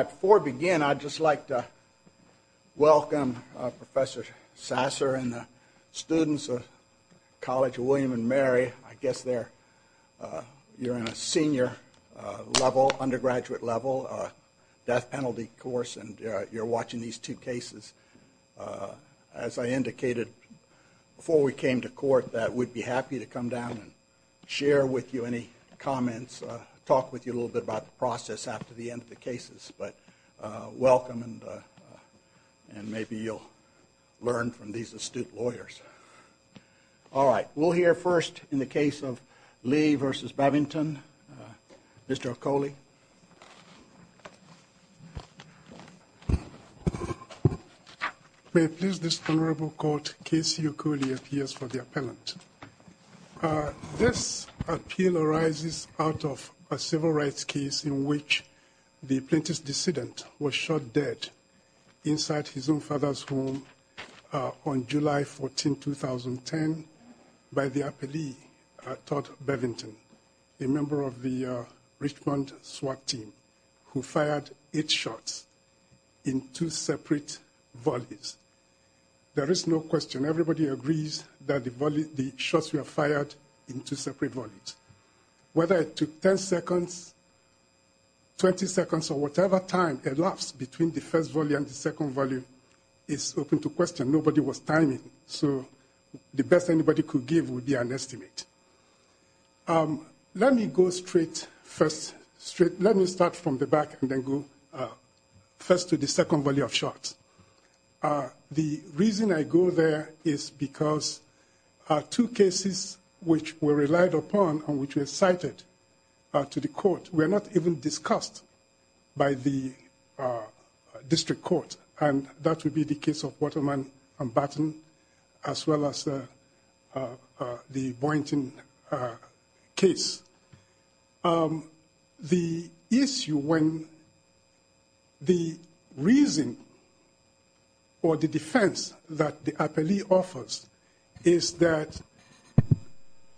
Before we begin, I'd just like to welcome Professor Sasser and the students of the College of William & Mary. I guess you're in a senior level, undergraduate level, death penalty course, and you're watching these two cases. As I indicated before we came to court, we'd be happy to come down and share with you any comments, talk with you a little bit about the process after the end of the cases. But welcome, and maybe you'll learn from these astute lawyers. All right, we'll hear first in the case of Lee v. Bevington, Mr. Okole. May it please this Honorable Court, Casey Okole appears for the appellant. This appeal arises out of a civil rights case in which the plaintiff's decedent was shot dead inside his own father's home on July 14, 2010 by the appellee, Todd Bevington, a member of the Richmond SWAT team who fired eight shots in two separate volleys. There is no question, everybody agrees that the shots were fired in two separate volleys. Whether it took 10 seconds, 20 seconds, or was timing. So the best anybody could give would be an estimate. Let me go straight first. Let me start from the back and then go first to the second volley of shots. The reason I go there is because two cases which were relied upon and which were cited to the court were not even discussed by the district court. And that would be the case of Waterman and Batten as well as the Boynton case. The issue when the reason or the defense that the appellee offers is that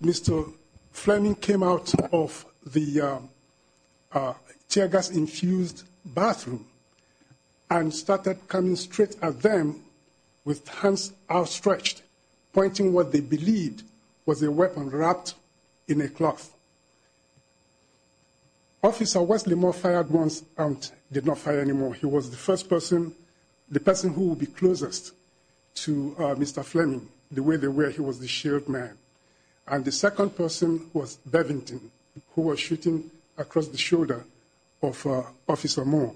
Mr. Fleming came out of the tear gas infused bathroom and started coming straight at them with hands outstretched, pointing what they believed was a weapon wrapped in a cloth. Officer Wesley Moore fired once and did not fire anymore. He was the first who would be closest to Mr. Fleming, the way they were, he was the shield man. And the second person was Bevington who was shooting across the shoulder of Officer Moore.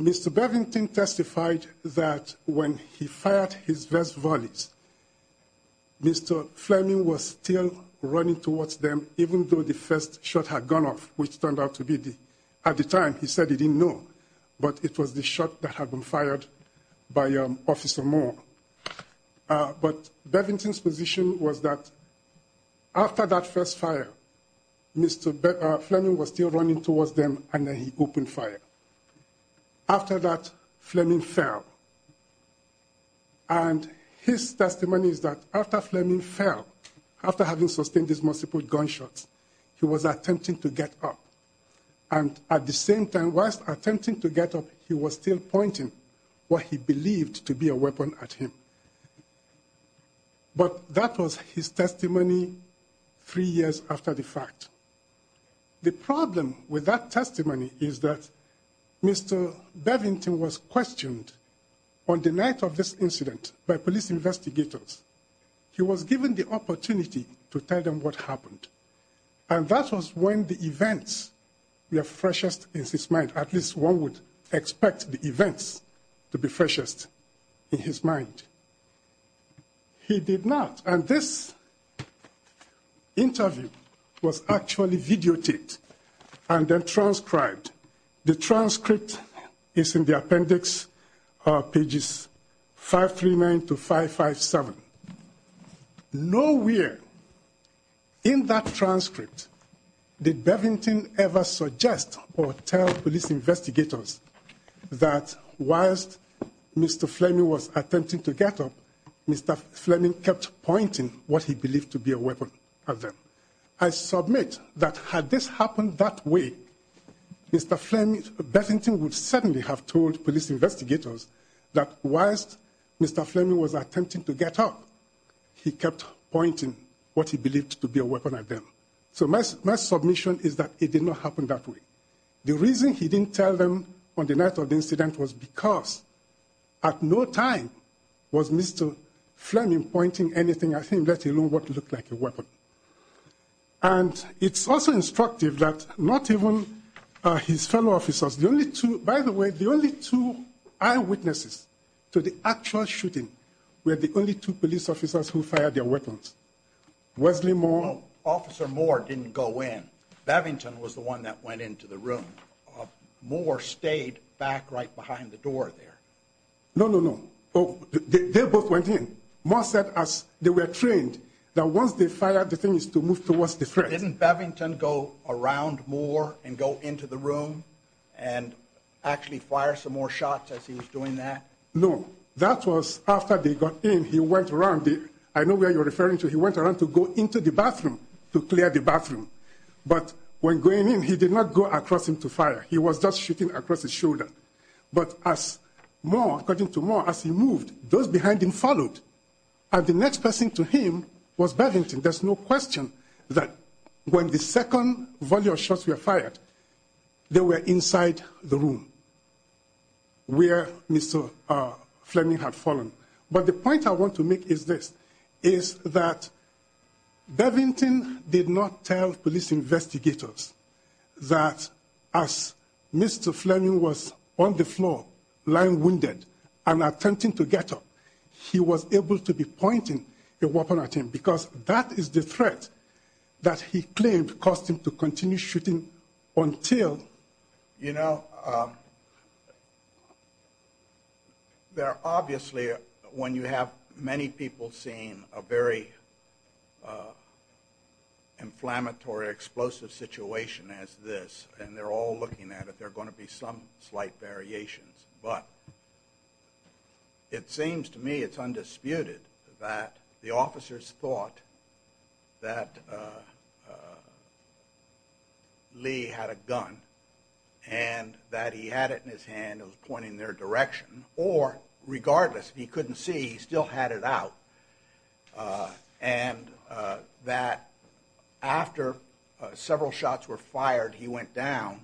Mr. Bevington testified that when he fired his first volleys, Mr. Fleming was still running towards them even though the first shot had gone off, which turned out to be the, at the time he said he didn't know, but it was the shot that had been fired by Officer Moore. But Bevington's position was that after that first fire, Mr. Fleming was still running towards them and then he opened fire. After that, Fleming fell. And his testimony is that after Fleming fell, after having sustained these multiple gunshots, he was attempting to get up. And at the same time, whilst attempting to get up, he was still pointing what he believed to be a weapon at him. But that was his testimony three years after the fact. The problem with that testimony is that Mr. Bevington was questioned on the night of this incident by police investigators. He was given the opportunity to tell them what happened. And that was when the events were freshest in his mind. At least one would expect the events to be freshest in his mind. He did not. And this interview was actually videotaped and then transcribed. The transcript is in the appendix, pages 539 to 557. Nowhere in that transcript did Bevington ever suggest or tell police investigators that whilst Mr. Fleming was attempting to get up, Mr. Fleming kept pointing what he believed to be a weapon at them. I submit that had this happened that way, Mr. Fleming, Bevington would certainly have told police investigators that whilst Mr. Fleming was attempting to get up, he kept pointing what he believed to be a weapon at them. So my submission is that it did not happen that way. The reason he didn't tell them on the night of the incident was because at no time was Mr. Fleming pointing anything at him, let alone what looked like a his fellow officers. The only two, by the way, the only two eyewitnesses to the actual shooting were the only two police officers who fired their weapons. Wesley Moore. Officer Moore didn't go in. Bevington was the one that went into the room. Moore stayed back right behind the door there. No, no, no. They both went in. Moore said as they were trained that once they fired, the thing is to move towards the threat. Isn't Bevington go around more and go into the room and actually fire some more shots as he was doing that? No, that was after they got in. He went around. I know where you're referring to. He went around to go into the bathroom to clear the bathroom. But when going in, he did not go across him to fire. He was just shooting across his shoulder. But as Moore, according to Moore, as he moved, those behind him followed. And the next person to him was Bevington. There's no question that when the second volume of shots were fired, they were inside the room where Mr. Fleming had fallen. But the point I want to make is this, is that Bevington did not tell police investigators that as Mr. Fleming was on the floor, lying wounded and attempting to get up, he was able to be pointing a weapon at him because that is the threat that he claimed caused him to continue shooting until, you know, there obviously, when you have many people seeing a very inflammatory explosive situation as this, and they're all looking at it, there are going to be some slight variations. But it seems to me it's undisputed that the officers thought that Lee had a gun and that he had it in his hand, it was pointing in their direction, or regardless, he couldn't see, he still had it out. And that after several shots were fired, he went down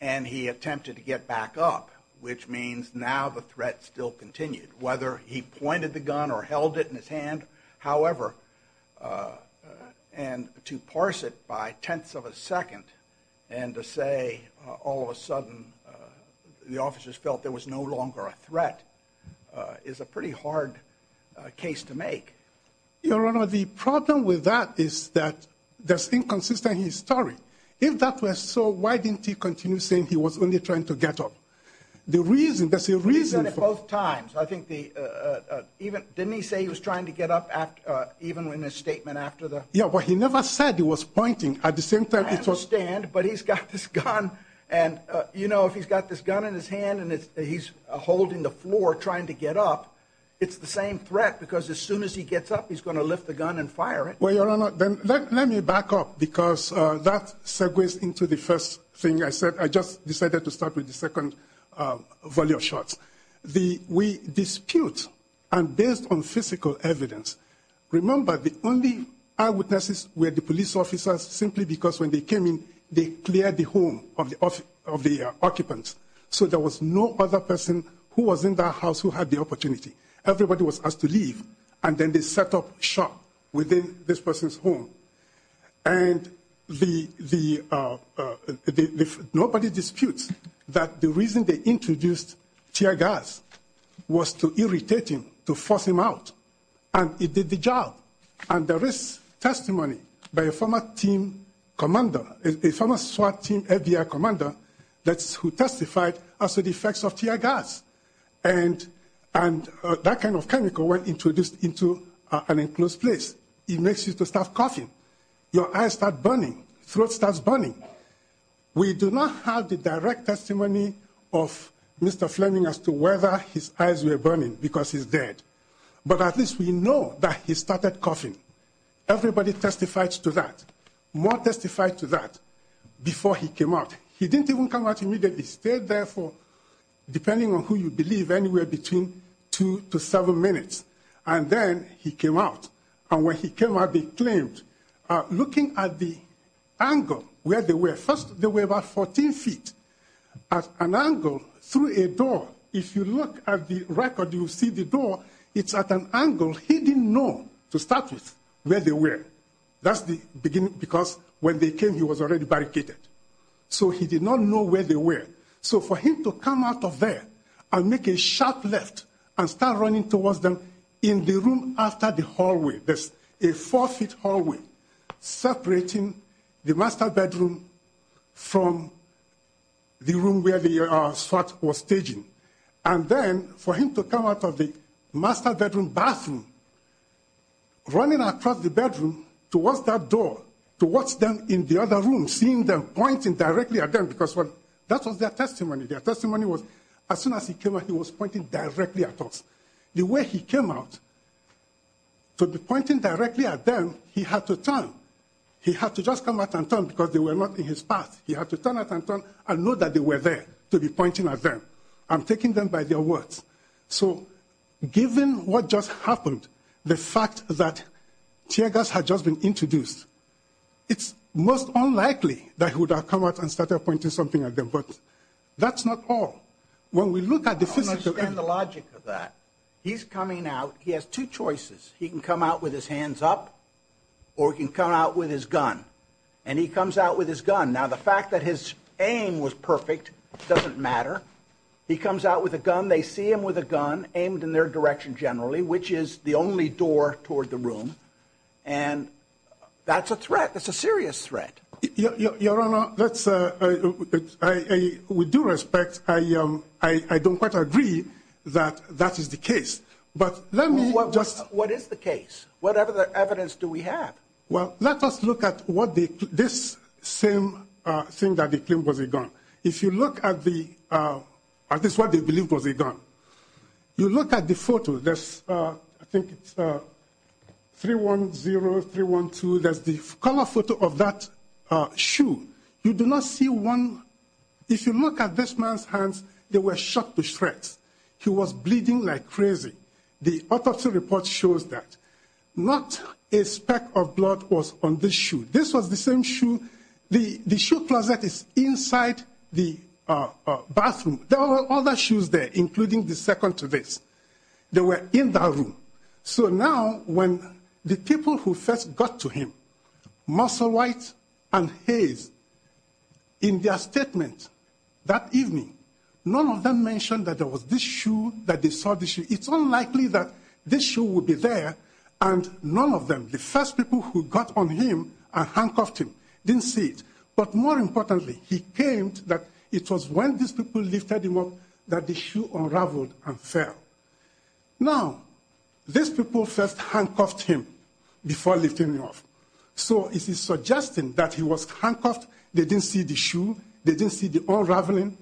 and he attempted to get back up, which means now the threat still continued, whether he pointed the gun or held it in his hand. However, and to parse it by tenths of a second, and to say, all of a sudden, the officers felt there was no longer a threat, is a pretty hard case to make. Your Honor, the problem with that is that there's inconsistency in his story. If that was so, why didn't he continue saying he was only trying to get up? The reason, there's a reason... He's done it both times. I think the, even, didn't he say he was trying to get up after, even in his statement after the... Yeah, but he never said he was pointing. At the same time... I understand, but he's got this gun and, you know, if he's got this gun in his hand and he's holding the floor trying to get up, it's the same threat because as soon as he gets up, he's going to lift the gun and fire it. Well, Your Honor, then let me back up because that segues into the first thing I said. I just decided to start with the second volume of shots. We dispute, and based on physical evidence, remember the only eyewitnesses were the police officers simply because when they came in, they cleared the home of the occupant. So there was no other person who was in that house who had the opportunity. Everybody was asked to leave, and then they set up shop within this person's home. And the, nobody disputes that the reason they introduced tear gas was to irritate him, to force him out, and it did the job. And there is testimony by a former team commander, a former SWAT team FBI commander, that's who testified as to the effects of tear gas. And that kind of chemical went introduced into an enclosed place. It makes you to start coughing. Your eyes start burning. Throat starts burning. We do not have the direct testimony of Mr. Fleming as to whether his eyes were burning because he's dead, but at least we know that he started coughing. Everybody testified to that, more testified to that before he came out. He didn't even come out immediately. He stayed there for, depending on who you believe, anywhere between two to seven minutes, and then he came out. And when he came out, they claimed, looking at the angle where they were. First, they were about 14 feet at an angle through a door. If you look at the record, you'll see the door, it's at an angle he didn't know to start with where they were. That's the beginning, because when they came, he was already barricaded. So he did not know where they were. So for him to come out of there and make a sharp left and start running towards them in the room after the hallway, there's a four-feet hallway separating the master bedroom from the room where the swat was staging. And then for him to come out of the master bedroom bathroom, running across the bedroom towards that door to watch them in the other room, seeing them pointing directly at them, because that was their testimony. Their testimony was as soon as he came out, he was pointing directly at us. The way he came out, to be pointing directly at them, he had to turn. Because they were not in his path, he had to turn and turn and know that they were there to be pointing at them and taking them by their words. So given what just happened, the fact that tear gas had just been introduced, it's most unlikely that he would have come out and started pointing something at them. But that's not all. When we look at the physical and the logic of that, he's coming out, he has two choices. He can come out with his hands up or he can come out with his gun. Now, the fact that his aim was perfect doesn't matter. He comes out with a gun. They see him with a gun aimed in their direction generally, which is the only door toward the room. And that's a threat. That's a serious threat. Your Honor, we do respect. I don't quite agree that that is the case. But let me just... What is the case? Whatever the evidence do we have? Well, let us look at this same thing that they claim was a gun. If you look at the... At least what they believe was a gun. You look at the photo, I think it's 310, 312, that's the color photo of that shoe. You do not see one... If you look at this man's hands, they were shot to shreds. He was bleeding like crazy. The autopsy report shows that. Not a speck of blood was on this shoe. This was the same shoe. The shoe closet is inside the bathroom. There were other shoes there, including the second vase. They were in that room. So now, when the people who first got to him, Musselwhite and Hayes, in their statement that evening, none of them mentioned that there was this shoe, that they saw this shoe. It's unlikely that this and none of them, the first people who got on him and handcuffed him, didn't see it. But more importantly, he claimed that it was when these people lifted him up that the shoe unraveled and fell. Now, these people first handcuffed him before lifting him off. So is he suggesting that he was handcuffed, they didn't see the shoe, they didn't see the unraveling,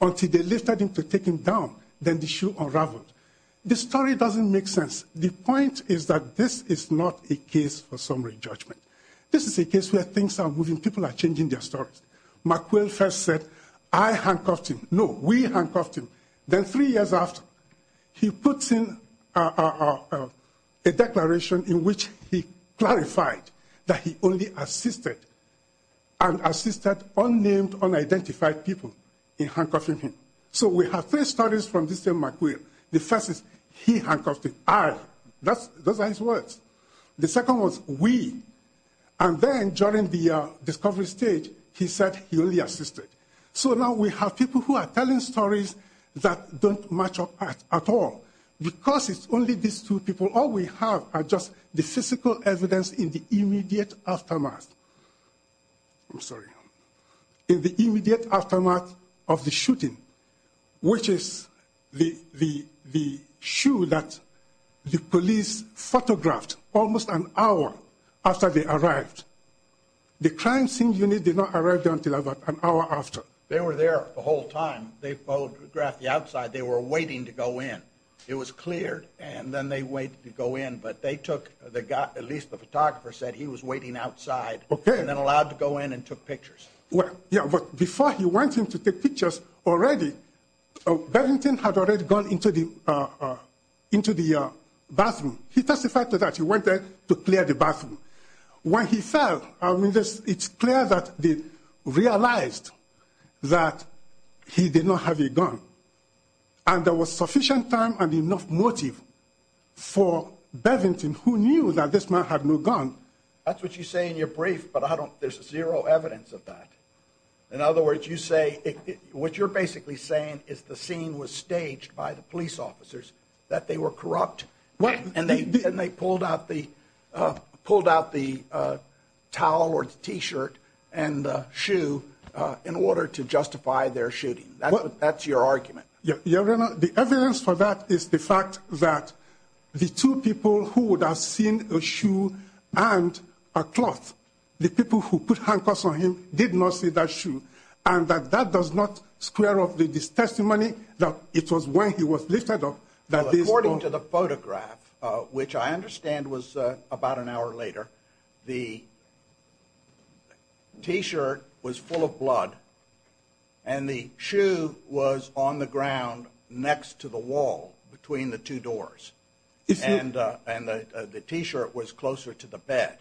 until they lifted him to take him down. Then the shoe unraveled. The story doesn't make sense. The point is that this is not a case for summary judgment. This is a case where things are moving, people are changing their stories. McQuill first said, I handcuffed him. No, we handcuffed him. Then three years after, he puts in a declaration in which he clarified that he only assisted and assisted unnamed, unidentified people in handcuffing him. So we have three stories from this McQuill. The first is he handcuffed him, I. Those are his words. The second was we. And then during the discovery stage, he said he only assisted. So now we have people who are telling stories that don't match up at all, because it's only these two people. All we have are just the physical evidence in the aftermath of the shooting, which is the shoe that the police photographed almost an hour after they arrived. The crime scene unit did not arrive until about an hour after. They were there the whole time. They photographed the outside. They were waiting to go in. It was cleared, and then they waited to go in. But they took, at least the photographer said, he was waiting outside, and then allowed to go in and took pictures. Well, yeah, but before he went in to take pictures already, Bevington had already gone into the bathroom. He testified to that. He went there to clear the bathroom. When he fell, it's clear that they realized that he did not have a gun. And there was sufficient time and motive for Bevington, who knew that this man had no gun. That's what you say in your brief, but there's zero evidence of that. In other words, you say what you're basically saying is the scene was staged by the police officers, that they were corrupt, and they pulled out the towel or the T-shirt and shoe in order to justify their argument. The evidence for that is the fact that the two people who would have seen a shoe and a cloth, the people who put handcuffs on him, did not see that shoe. And that does not square off the testimony that it was when he was lifted up. According to the photograph, which I understand was about an hour later, the T-shirt was full of blood, and the shoe was on the ground next to the wall between the two doors. And the T-shirt was closer to the bed.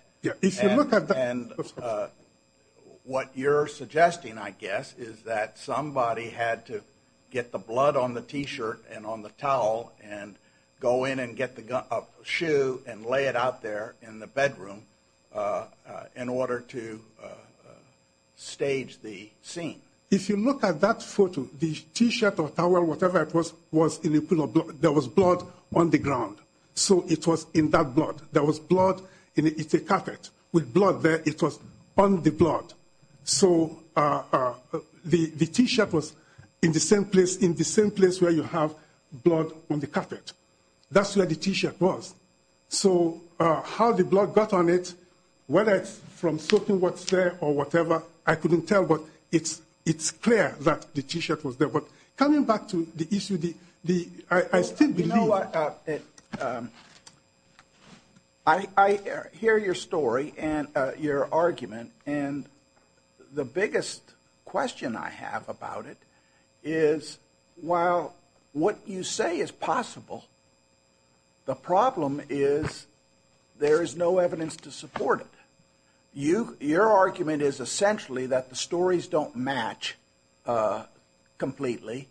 And what you're suggesting, I guess, is that somebody had to get the blood on the T-shirt and on the towel and go in and get the shoe and lay it out there in the bedroom in order to stage the scene. If you look at that photo, the T-shirt or towel, whatever it was, was in a pool of blood. There was blood on the ground. So it was in that blood. There was blood in the carpet. With blood there, it was on the blood. So the T-shirt was in the same place, in the same place where you have blood on the carpet. That's where the T-shirt was. So how the blood got on it, whether it's from soaking what's there or whatever, I couldn't tell. But it's clear that the T-shirt was there. But coming back to the issue, I still believe... You know what? I hear your story and your argument, and the biggest question I have about it is, while what you say is possible, the problem is there is no evidence to support it. Your argument is essentially that the stories don't match completely.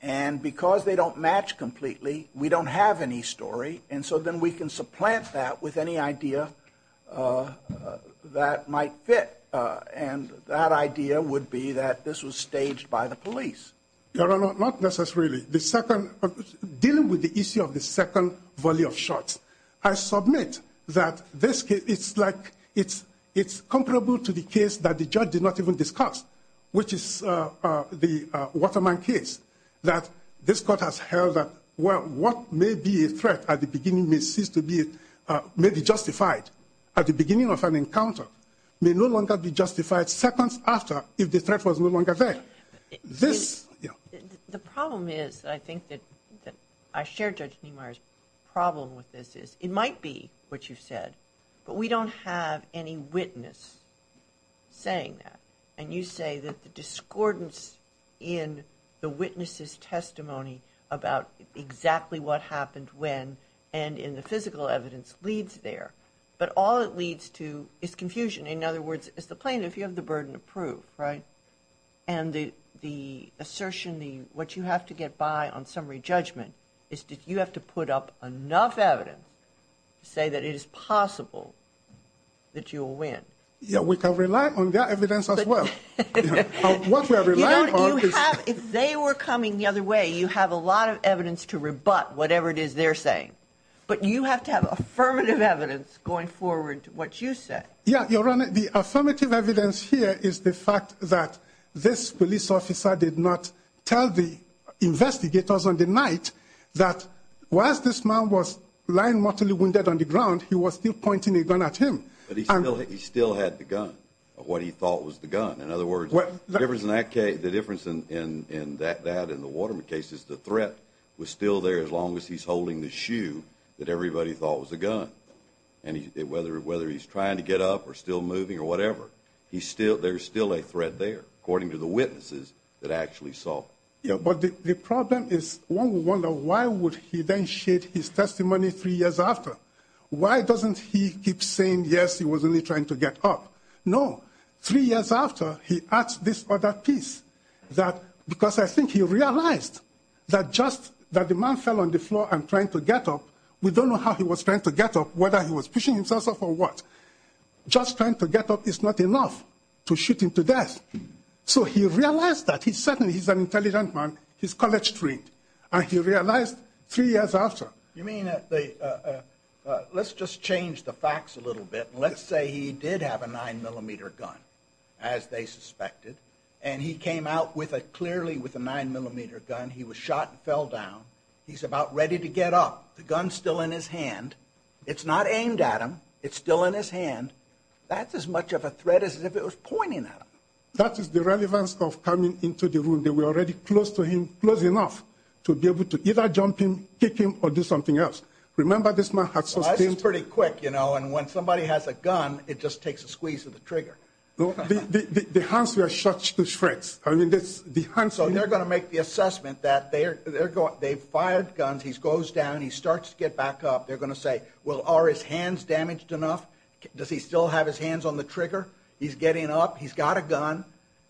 And because they don't match completely, we don't have any story. And so then we can supplant that with any idea that might fit. And that idea would be that this was staged by the police. Your Honor, not necessarily. Dealing with the issue of the second volley of shots, I submit that it's comparable to the case that the judge did not even discuss, which is the Waterman case, that this court has held that what may be a threat at the beginning may cease to be, may be justified at the beginning of an encounter, may no longer be justified seconds after if the threat was no longer there. This, you know... The problem is, I think that I shared Judge Niemeyer's problem with this, is it might be what you've said, but we don't have any witness saying that. And you say that the discordance in the witness's testimony about exactly what evidence leads there, but all it leads to is confusion. In other words, it's the plaintiff, you have the burden of proof, right? And the assertion, what you have to get by on summary judgment is that you have to put up enough evidence to say that it is possible that you'll win. Yeah, we can rely on that evidence as well. What we are relying on is... If they were coming the other way, you have a lot of evidence to rebut whatever it is they're saying. But you have to have affirmative evidence going forward to what you said. Yeah, Your Honor, the affirmative evidence here is the fact that this police officer did not tell the investigators on the night that whilst this man was lying mortally wounded on the ground, he was still pointing a gun at him. But he still had the gun, what he thought was the gun. In other words, the difference in that case, the difference in that and the Waterman case is the threat was still there as long as he's holding the shoe that everybody thought was a gun. And whether he's trying to get up or still moving or whatever, there's still a threat there, according to the witnesses that actually saw. Yeah, but the problem is, one would wonder why would he then shed his testimony three years after? Why doesn't he keep saying, yes, he was only trying to get up? No, three years after, he asked this other piece that because I think he realized that just that the man fell on the floor and trying to get up. We don't know how he was trying to get up, whether he was pushing himself or what. Just trying to get up is not enough to shoot him to death. So he realized that he's certainly he's an intelligent man. He's college trained, and he realized three years after. You mean, let's just change the facts a little bit. Let's say he did have a nine millimeter gun, as they suspected, and he came out with a clearly with a nine millimeter gun. He was shot and fell down. He's about ready to get up. The gun's still in his hand. It's not aimed at him. It's still in his hand. That's as much of a threat as if it was pointing at him. That is the relevance of coming into the room. They were already close to him, close enough to be able to either jump him, kick him or do something else. Remember, this man had sustained pretty quick, you know, and when somebody has a gun, it just takes a squeeze of the trigger. Well, the hands were shot to shreds. I mean, that's the hand. So they're going to make the assessment that they're they've fired guns. He's goes down. He starts to get back up. They're going to say, well, are his hands damaged enough? Does he still have his hands on the trigger? He's getting up. He's got a gun.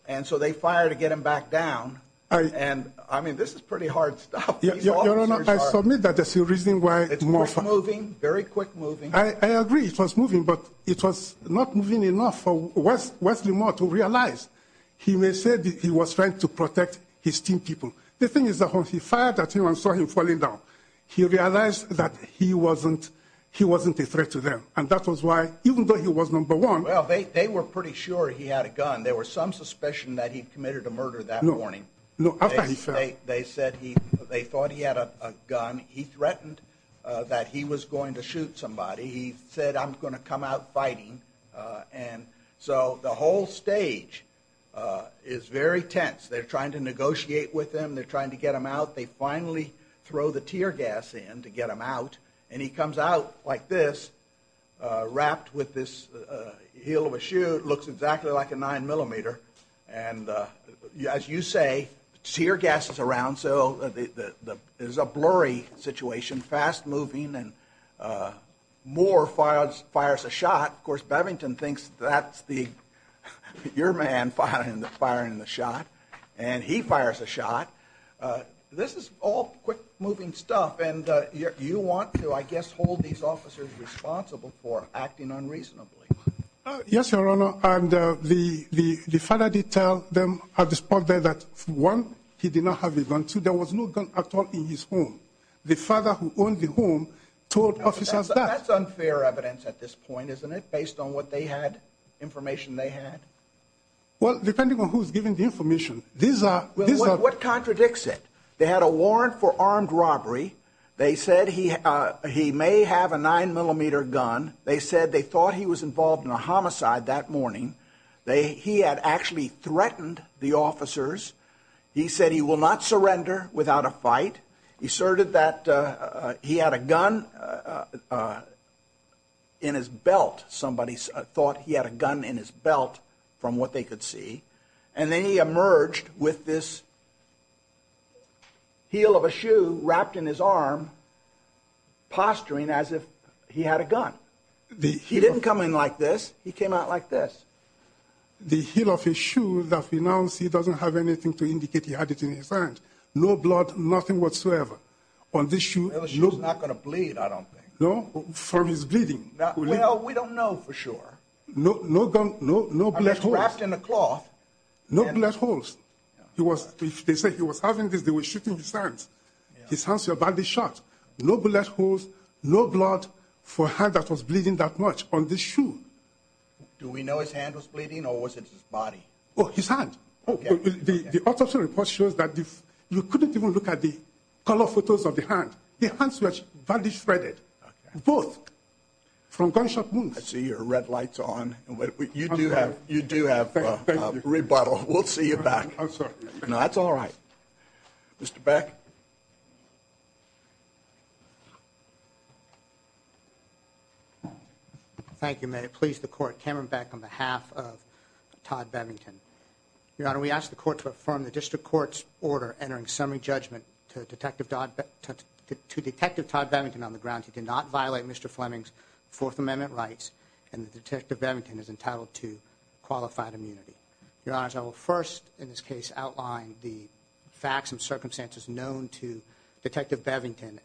And so they fire to get him back down. And I mean, this is pretty hard stuff. I submit that there's a reason why it's moving. Very quick moving. I agree. It was moving, but it was not moving enough for Wesley Moore to realize. He may say that he was trying to protect his team people. The thing is that when he fired at him and saw him falling down, he realized that he wasn't he wasn't a threat to them. And that was why, even though he was number one, they were pretty sure he had a gun. There was some suspicion that he'd committed a murder that morning. They said they thought he had a gun. He threatened that he was going to shoot somebody. He said, I'm going to come out fighting. And so the whole stage is very tense. They're trying to negotiate with them. They're trying to get him out. They finally throw the tear gas in to get him out. And he comes out like this, wrapped with this heel of a shoe. Looks exactly like a nine millimeter. And as you say, tear gas is around. So there's a blurry situation, fast moving. And Moore fires a shot. Of course, Bevington thinks that's your man firing the shot. And he fires a shot. This is all quick moving stuff. And you want to, I guess, hold these the father did tell them at this point that one, he did not have a gun to there was no gun at all in his home. The father who owned the home told officers that's unfair evidence at this point, isn't it? Based on what they had information they had. Well, depending on who's given the information, these are what contradicts it. They had a warrant for armed robbery. They said he he may have a nine millimeter gun. They said they thought he was involved in a homicide that morning. He had actually threatened the officers. He said he will not surrender without a fight. He asserted that he had a gun in his belt. Somebody thought he had a gun in his belt from what they could see. And then he emerged with this heel of a shoe wrapped in his arm, posturing as if he had a gun. He didn't come in like this. He came out like this. The heel of his shoe that we now see doesn't have anything to indicate he had it in his hand. No blood, nothing whatsoever on this shoe. He's not going to bleed. I don't think so from his bleeding. Well, we don't know for sure. No, no, no, no, no, no, no, no, no, no, no, no. No bullet holes, no blood for a hand that was bleeding that much on this shoe. Do we know his hand was bleeding or was it his body? Oh, his hand. The autopsy report shows that you couldn't even look at the color photos of the hand. The hands were badly shredded, both from gunshot wounds. I see your red lights on. You do have a rebuttal. We'll see you back. No, that's all right. Mr. Beck. Thank you. May it please the Court, Cameron Beck on behalf of Todd Bevington. Your Honor, we ask the Court to affirm the District Court's order entering summary judgment to Detective Todd Bevington on the grounds he did not violate Mr. Fleming's Fourth Amendment rights and that Detective Bevington is entitled to qualified immunity. Your Honors, I will first in this fact some circumstances known to Detective Bevington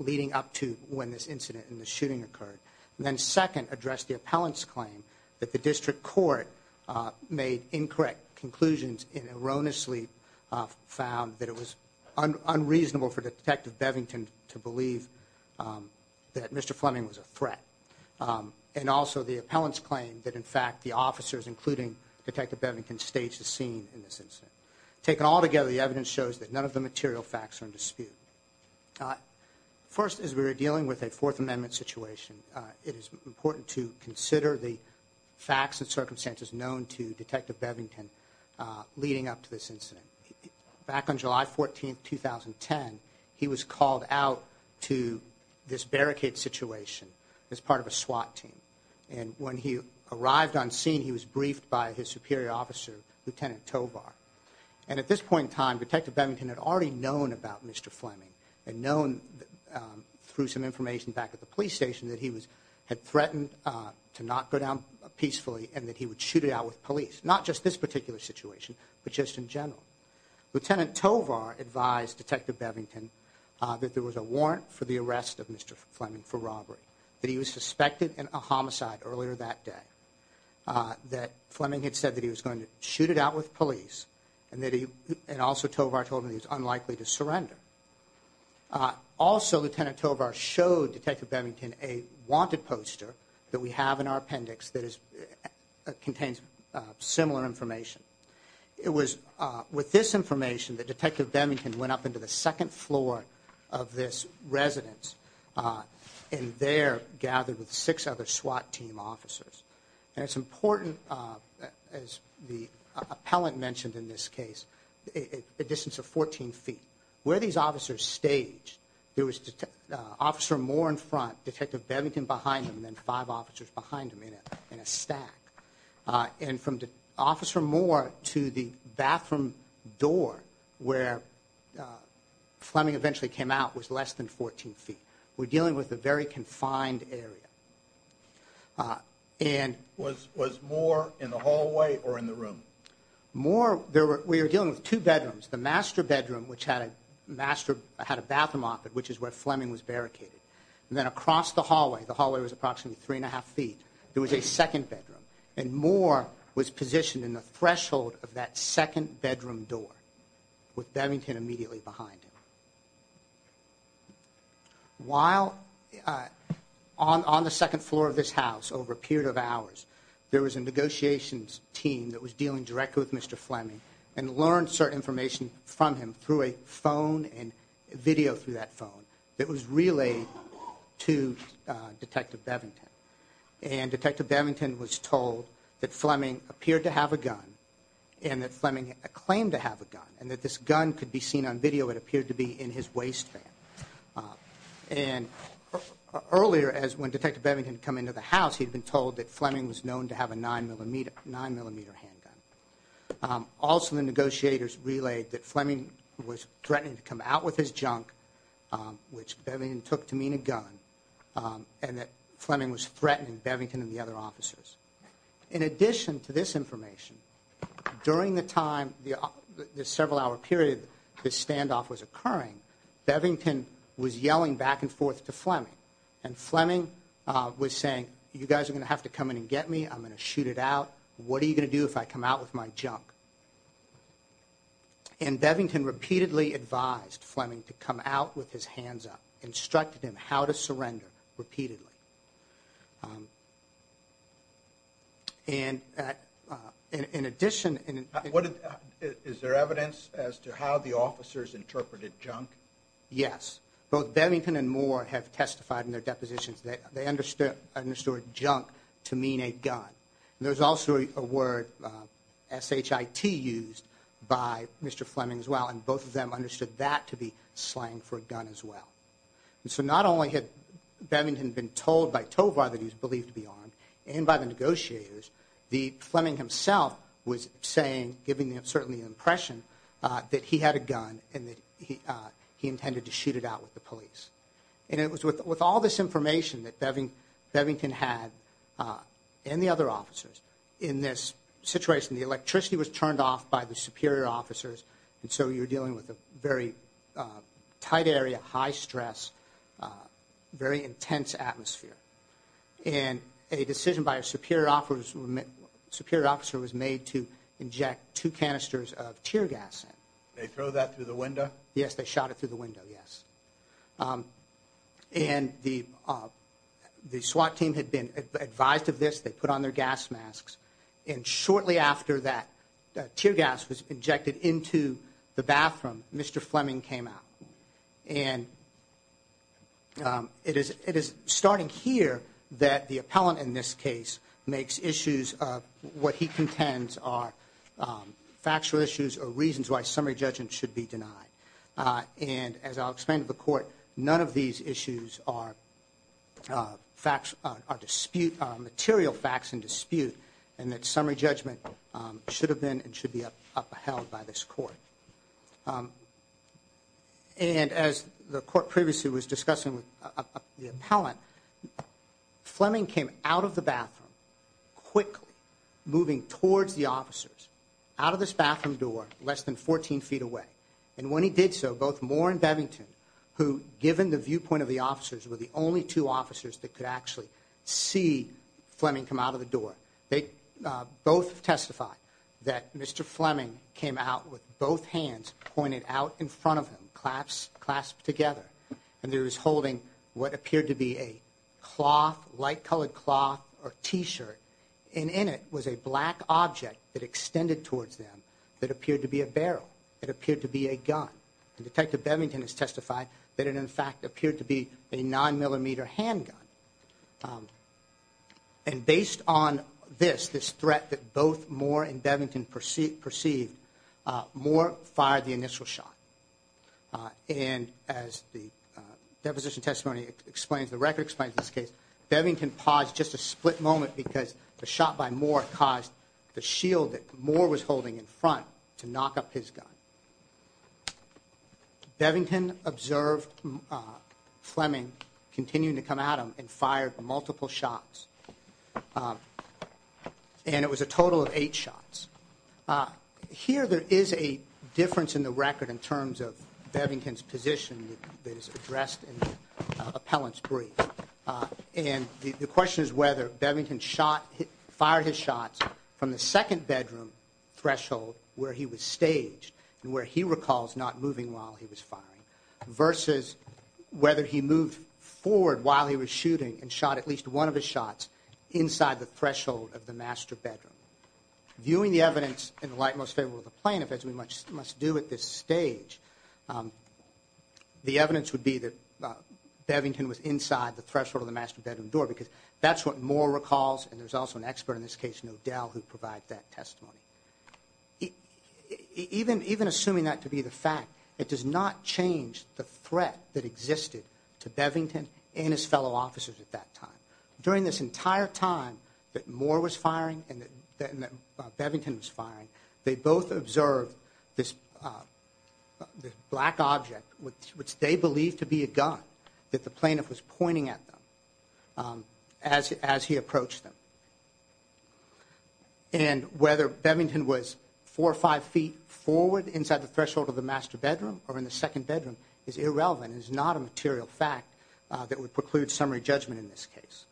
leading up to when this incident and the shooting occurred. Then second, address the appellant's claim that the District Court made incorrect conclusions and erroneously found that it was unreasonable for Detective Bevington to believe that Mr. Fleming was a threat. And also the appellant's claim that in fact the officers, including Detective Bevington, staged the scene in this incident. Taken all together, the evidence shows that none of the material facts are in dispute. First, as we were dealing with a Fourth Amendment situation, it is important to consider the facts and circumstances known to Detective Bevington leading up to this incident. Back on July 14, 2010, he was called out to this barricade situation as part of a SWAT team. And when he arrived on scene, he was briefed by his Detective Bevington had already known about Mr. Fleming and known through some information back at the police station that he was had threatened to not go down peacefully and that he would shoot it out with police. Not just this particular situation, but just in general. Lieutenant Tovar advised Detective Bevington that there was a warrant for the arrest of Mr. Fleming for robbery, that he was suspected in a homicide earlier that day, that Fleming had said that he was going to unlikely to surrender. Also, Lieutenant Tovar showed Detective Bevington a wanted poster that we have in our appendix that contains similar information. It was with this information that Detective Bevington went up into the second floor of this residence and there gathered with six other SWAT team officers. And it's important, as the appellant mentioned in this case, a distance of 14 feet. Where these officers staged, there was Officer Moore in front, Detective Bevington behind him, then five officers behind him in a stack. And from Officer Moore to the bathroom door where Fleming eventually came out was less than 14 feet. We're dealing with a very confined area. Was Moore in the hallway or in the room? We were dealing with two bedrooms. The master bedroom, which had a bathroom off it, which is where Fleming was barricaded. And then across the hallway, the hallway was approximately three and a half feet, there was a second bedroom. And Moore was positioned in the threshold of that second bedroom door with Bevington immediately behind him. While on the second floor of this house over a period of hours, there was a negotiations team that was dealing directly with Mr. Fleming and learned certain information from him through a phone and video through that phone that was relayed to Detective Bevington. And Detective Bevington was told that Fleming appeared to have a gun and that Fleming claimed to have a gun and that this gun could be seen on video. It appeared to be in his waistband. And earlier as when Detective Bevington come into the house, he'd been told that Fleming was known to have a nine millimeter, nine millimeter handgun. Also, the negotiators relayed that Fleming was threatening to come out with his junk, which Bevington took to mean a gun. And that Fleming was threatening Bevington and the other officers. In addition to this information, during the time, the several hour period the standoff was occurring, Bevington was yelling back and forth to Fleming. And Fleming was saying, you guys are going to have to come in and get me. I'm going to shoot it out. What are you going to do if I come out with my junk? And Bevington repeatedly advised Fleming to come out with his hands up, instructed him how to surrender repeatedly. And in addition... Is there evidence as to how the officers interpreted junk? Yes. Both Bevington and Moore have testified in their depositions that they understood junk to mean a gun. And there's also a word SHIT used by Mr. Fleming as well. And both of them understood that to be slang for a gun as well. And so not only had Bevington been told by Tovar that he was believed to be armed, and by the negotiators, Fleming himself was saying, giving them certainly an impression, that he had a gun and that he intended to shoot it out with the police. And it was with all this information that Bevington had, and the other officers, in this situation, the electricity was turned off by the superior officers. And so you're dealing with a very tight area, high stress, very intense atmosphere. And a decision by a superior officer was made to inject two canisters of tear gas in. They throw that through the window? Yes, they shot it through the window, yes. And the SWAT team had been advised of this, they put on their gas masks. And shortly after that tear gas was injected into the bathroom, Mr. Fleming came out. And it is starting here that the appellant in this case makes issues of what he contends are factual issues or reasons why summary judgment should be denied. And as I'll explain to the court, none of these issues are facts, are dispute, are material facts in dispute, and that summary judgment should have been and should be upheld by this court. And as the court previously was discussing with the appellant, Fleming came out of the bathroom quickly, moving towards the officers, out of this bathroom door, less than 14 feet away. And when he did so, both Moore and Bevington, who given the viewpoint of the officers, were the only two officers that could actually see Fleming come out of the door. They both testified that Mr. Fleming came out with both hands pointed out in front of him, clasped together. And he was holding what appeared to be a cloth, light colored cloth or t-shirt. And in it was a black object that Detective Bevington has testified that it in fact appeared to be a nine millimeter handgun. And based on this, this threat that both Moore and Bevington perceived, perceived, Moore fired the initial shot. And as the deposition testimony explains, the record explains this case, Bevington paused just a split moment because the shot by Moore caused the shield that Moore was holding in front to knock up his gun. Bevington observed Fleming continuing to come at him and fired multiple shots. And it was a total of eight shots. Here there is a difference in the record in terms of Bevington's position that is addressed in the appellant's brief. And the question is whether Bevington shot, fired his shots from the second bedroom threshold where he was staged and where he recalls not moving while he was firing versus whether he moved forward while he was shooting and shot at least one of his shots inside the threshold of the master bedroom. Viewing the evidence in the light most favorable of the plaintiff as we must do at this stage, the evidence would be that Bevington was inside the threshold of the master bedroom door because that's what Moore recalls and there's also an expert in this case, Nodell, who provides that testimony. Even assuming that to be the fact, it does not change the threat that existed to Bevington and his fellow officers at that time. During this entire time that Moore was firing and Bevington was firing, they both observed this black object, which they believed to be a gun that the plaintiff was pointing at them as he approached them. And whether Bevington was four or five feet forward inside the threshold of the master bedroom or in the second bedroom is irrelevant, is not a material fact that would preclude summary judgment in this case.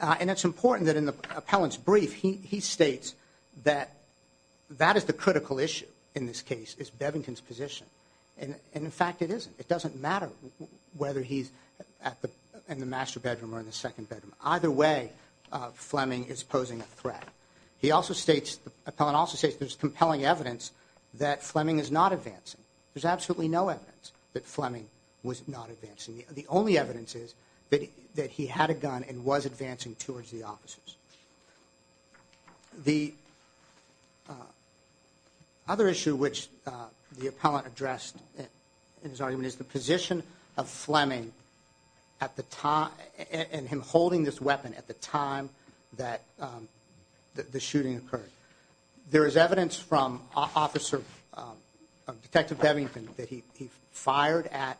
And it's important that in the appellant's brief he states that that is the whether he's in the master bedroom or in the second bedroom. Either way, Fleming is posing a threat. The appellant also states there's compelling evidence that Fleming is not advancing. There's absolutely no evidence that Fleming was not advancing. The only evidence is that he had a gun and was advancing towards the officers. The other issue which the appellant addressed in his argument is the position of Fleming at the time and him holding this weapon at the time that the shooting occurred. There is evidence from officer Detective Bevington that he fired at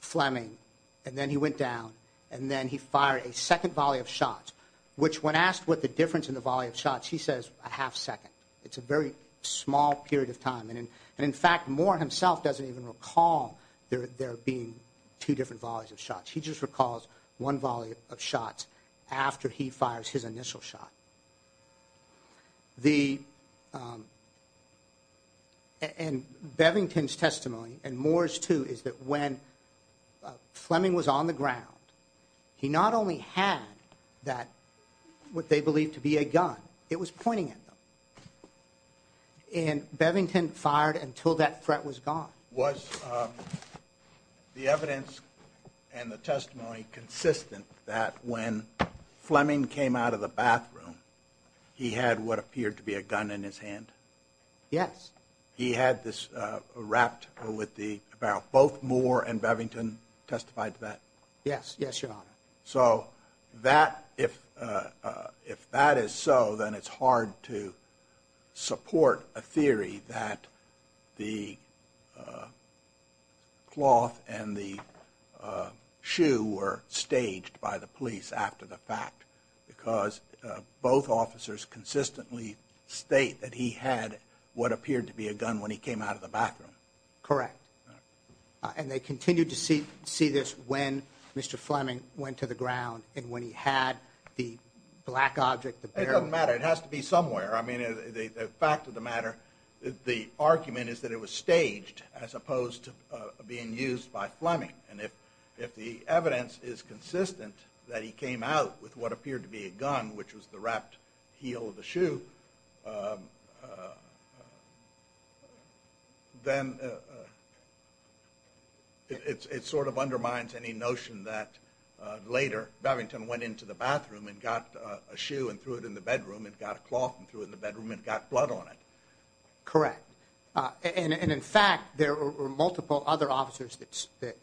Fleming and then he went down and then he fired a second volley of shots, which when asked what the difference in the volley of shots, he says a half second. It's a very small period of time. And in fact, Moore himself doesn't even recall there being two different volleys of shots. He just recalls one volley of shots after he fires his initial shot. And Bevington's testimony and Moore's too is that when Fleming was on the ground, he not only had what they believed to be a gun, it was pointing at them. And Bevington fired until that threat was gone. Was the evidence and the testimony consistent that when Fleming came out of the bathroom, he had what appeared to be a gun in his hand? Yes. He had this wrapped with the barrel. Both Moore and Bevington testified to that? Yes. Yes, Your Honor. So if that is so, then it's hard to support a theory that the cloth and the shoe were staged by the police after the fact, because both officers consistently state that he had what appeared to be a gun when he came out of the bathroom. Correct. And they continue to see this when Mr. Fleming went to the ground and when he had the black object, the barrel. It doesn't matter. It has to be somewhere. I mean, the fact of the matter, the argument is that it was staged as opposed to being used by Fleming. And if the evidence is consistent that he came out with what appeared to be a gun, which was the wrapped heel of the shoe, then it sort of undermines any notion that later Bevington went into the bathroom and got a shoe and threw it in the bedroom and got a cloth and threw it in the bedroom and got blood on it. Correct. And in fact, there were multiple other officers that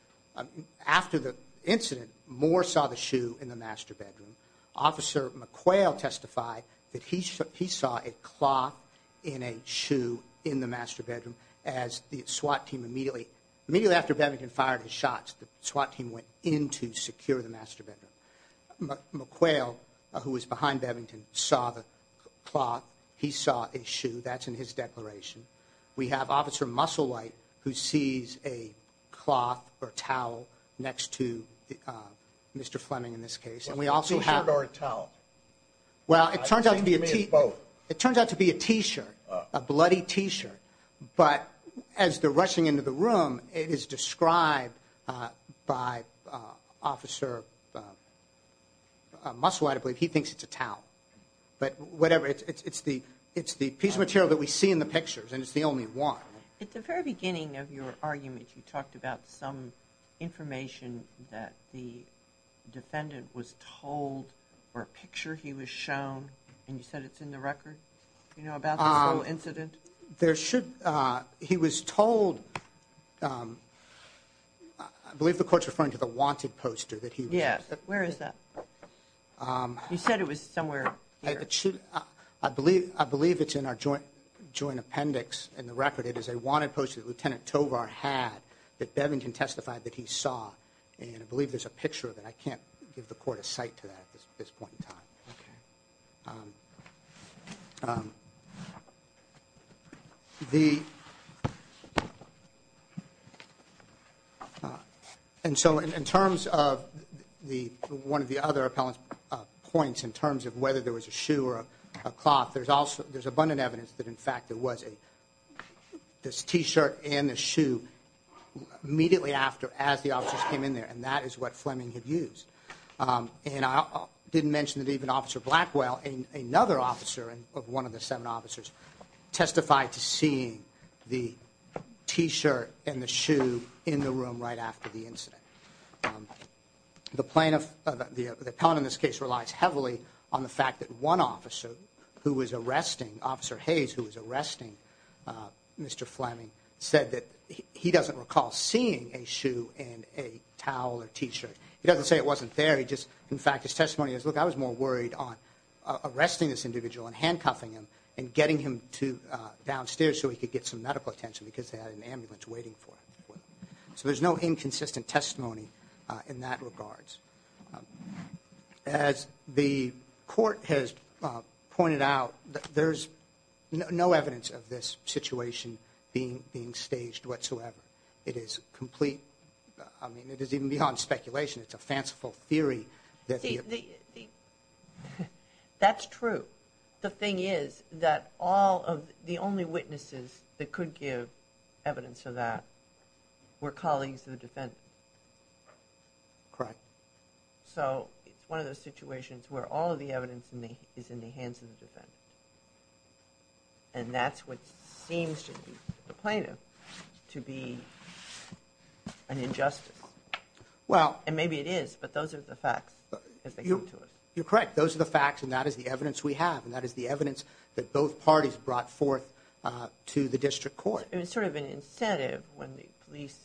after the incident, Moore saw the shoe in the master bedroom. Officer McQuail testified that he saw a cloth in a shoe in the master bedroom as the SWAT team immediately, immediately after Bevington fired his shots, the SWAT team went in to secure the master bedroom. McQuail, who was behind Bevington, saw the cloth. He saw a shoe. That's in his declaration. We have Officer Musselwhite who sees a cloth or towel next to Mr. Fleming in this case. Was it a t-shirt or a towel? Well, it turns out to be a t-shirt, a bloody t-shirt. But as they're rushing into the room, it is described by Officer Musselwhite, I believe. He thinks it's a towel. But whatever, it's the piece of material that we see in the pictures and it's the only one. At the very beginning of your argument, you talked about some information that the defendant was told or a picture he was shown and you said it's in the record, you know, about this whole incident. There should, he was told, I believe the court's referring to the wanted poster that he was. Yes. Where is that? You said it was somewhere. I believe it's in our joint appendix in the record. It is a wanted poster that Lieutenant Tovar had that Bevington testified that he saw. And I believe there's a picture of it. I can't give the court a cite to that at this point in time. Okay. The, and so in terms of the, one of the other appellant's points in terms of whether there was a shoe or a cloth, there's also, there's abundant evidence that in fact there was a, this t-shirt and the shoe immediately after, as the officers came in there. And that is what officer Blackwell and another officer of one of the seven officers testified to seeing the t-shirt and the shoe in the room right after the incident. The plaintiff, the appellant in this case relies heavily on the fact that one officer who was arresting officer Hayes, who was arresting Mr. Fleming said that he doesn't recall seeing a shoe and a towel or t-shirt. He doesn't say it wasn't there. He just, in fact, his testimony is, look, I was more worried on arresting this individual and handcuffing him and getting him to downstairs so he could get some medical attention because they had an ambulance waiting for him. So there's no inconsistent testimony in that regards. As the court has pointed out, there's no evidence of this situation being staged whatsoever. It is complete, I mean, it is even beyond speculation. It's a fanciful theory. That's true. The thing is that all of the only witnesses that could give evidence of that were colleagues of the defendant. Correct. So it's one of those situations where all of the evidence is in the hands of the defendant. And that's what seems to the plaintiff to be an injustice. Well, and maybe it is, but those are the facts. You're correct. Those are the facts and that is the evidence we have. And that is the evidence that both parties brought forth to the district court. It was sort of an incentive when the police,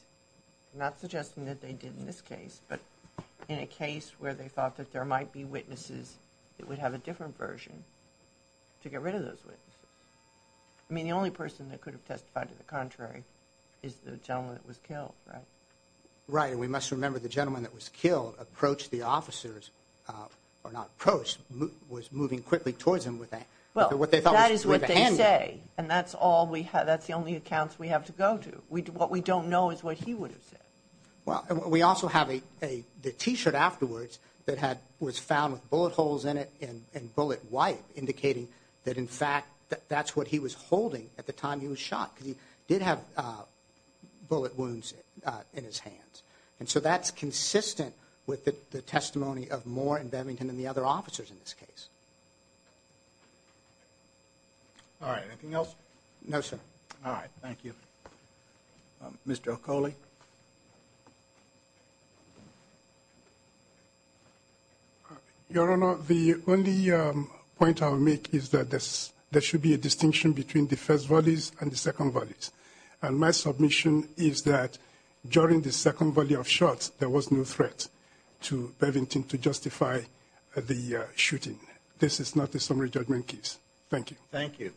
not suggesting that they did in this case, but in a case where they thought that there might be witnesses that would have a different version to get rid of those witnesses. I mean, the only person that could have testified to the contrary is the gentleman that was killed, right? Right. And we must remember, the gentleman that was killed approached the officers, or not approached, was moving quickly towards him with a handgun. Well, that is what they say. And that's the only accounts we have to go to. What we don't know is what he would have said. Well, and we also have the t-shirt afterwards that was found with bullet holes in it and bullet wipe, indicating that, in fact, that's what he was holding at the time he was shot, because he did have bullet wounds in his hands. And so that's consistent with the testimony of Moore and Bevington and the other officers in this case. All right. Anything else? No, sir. All right. Thank you. Mr. Okole. Your Honor, the only point I will make is that there should be a distinction between the first volleys and the second volleys. And my submission is that during the second volley of shots, there was no threat to Bevington to justify the shooting. This is not a summary judgment case. Thank you. Thank you.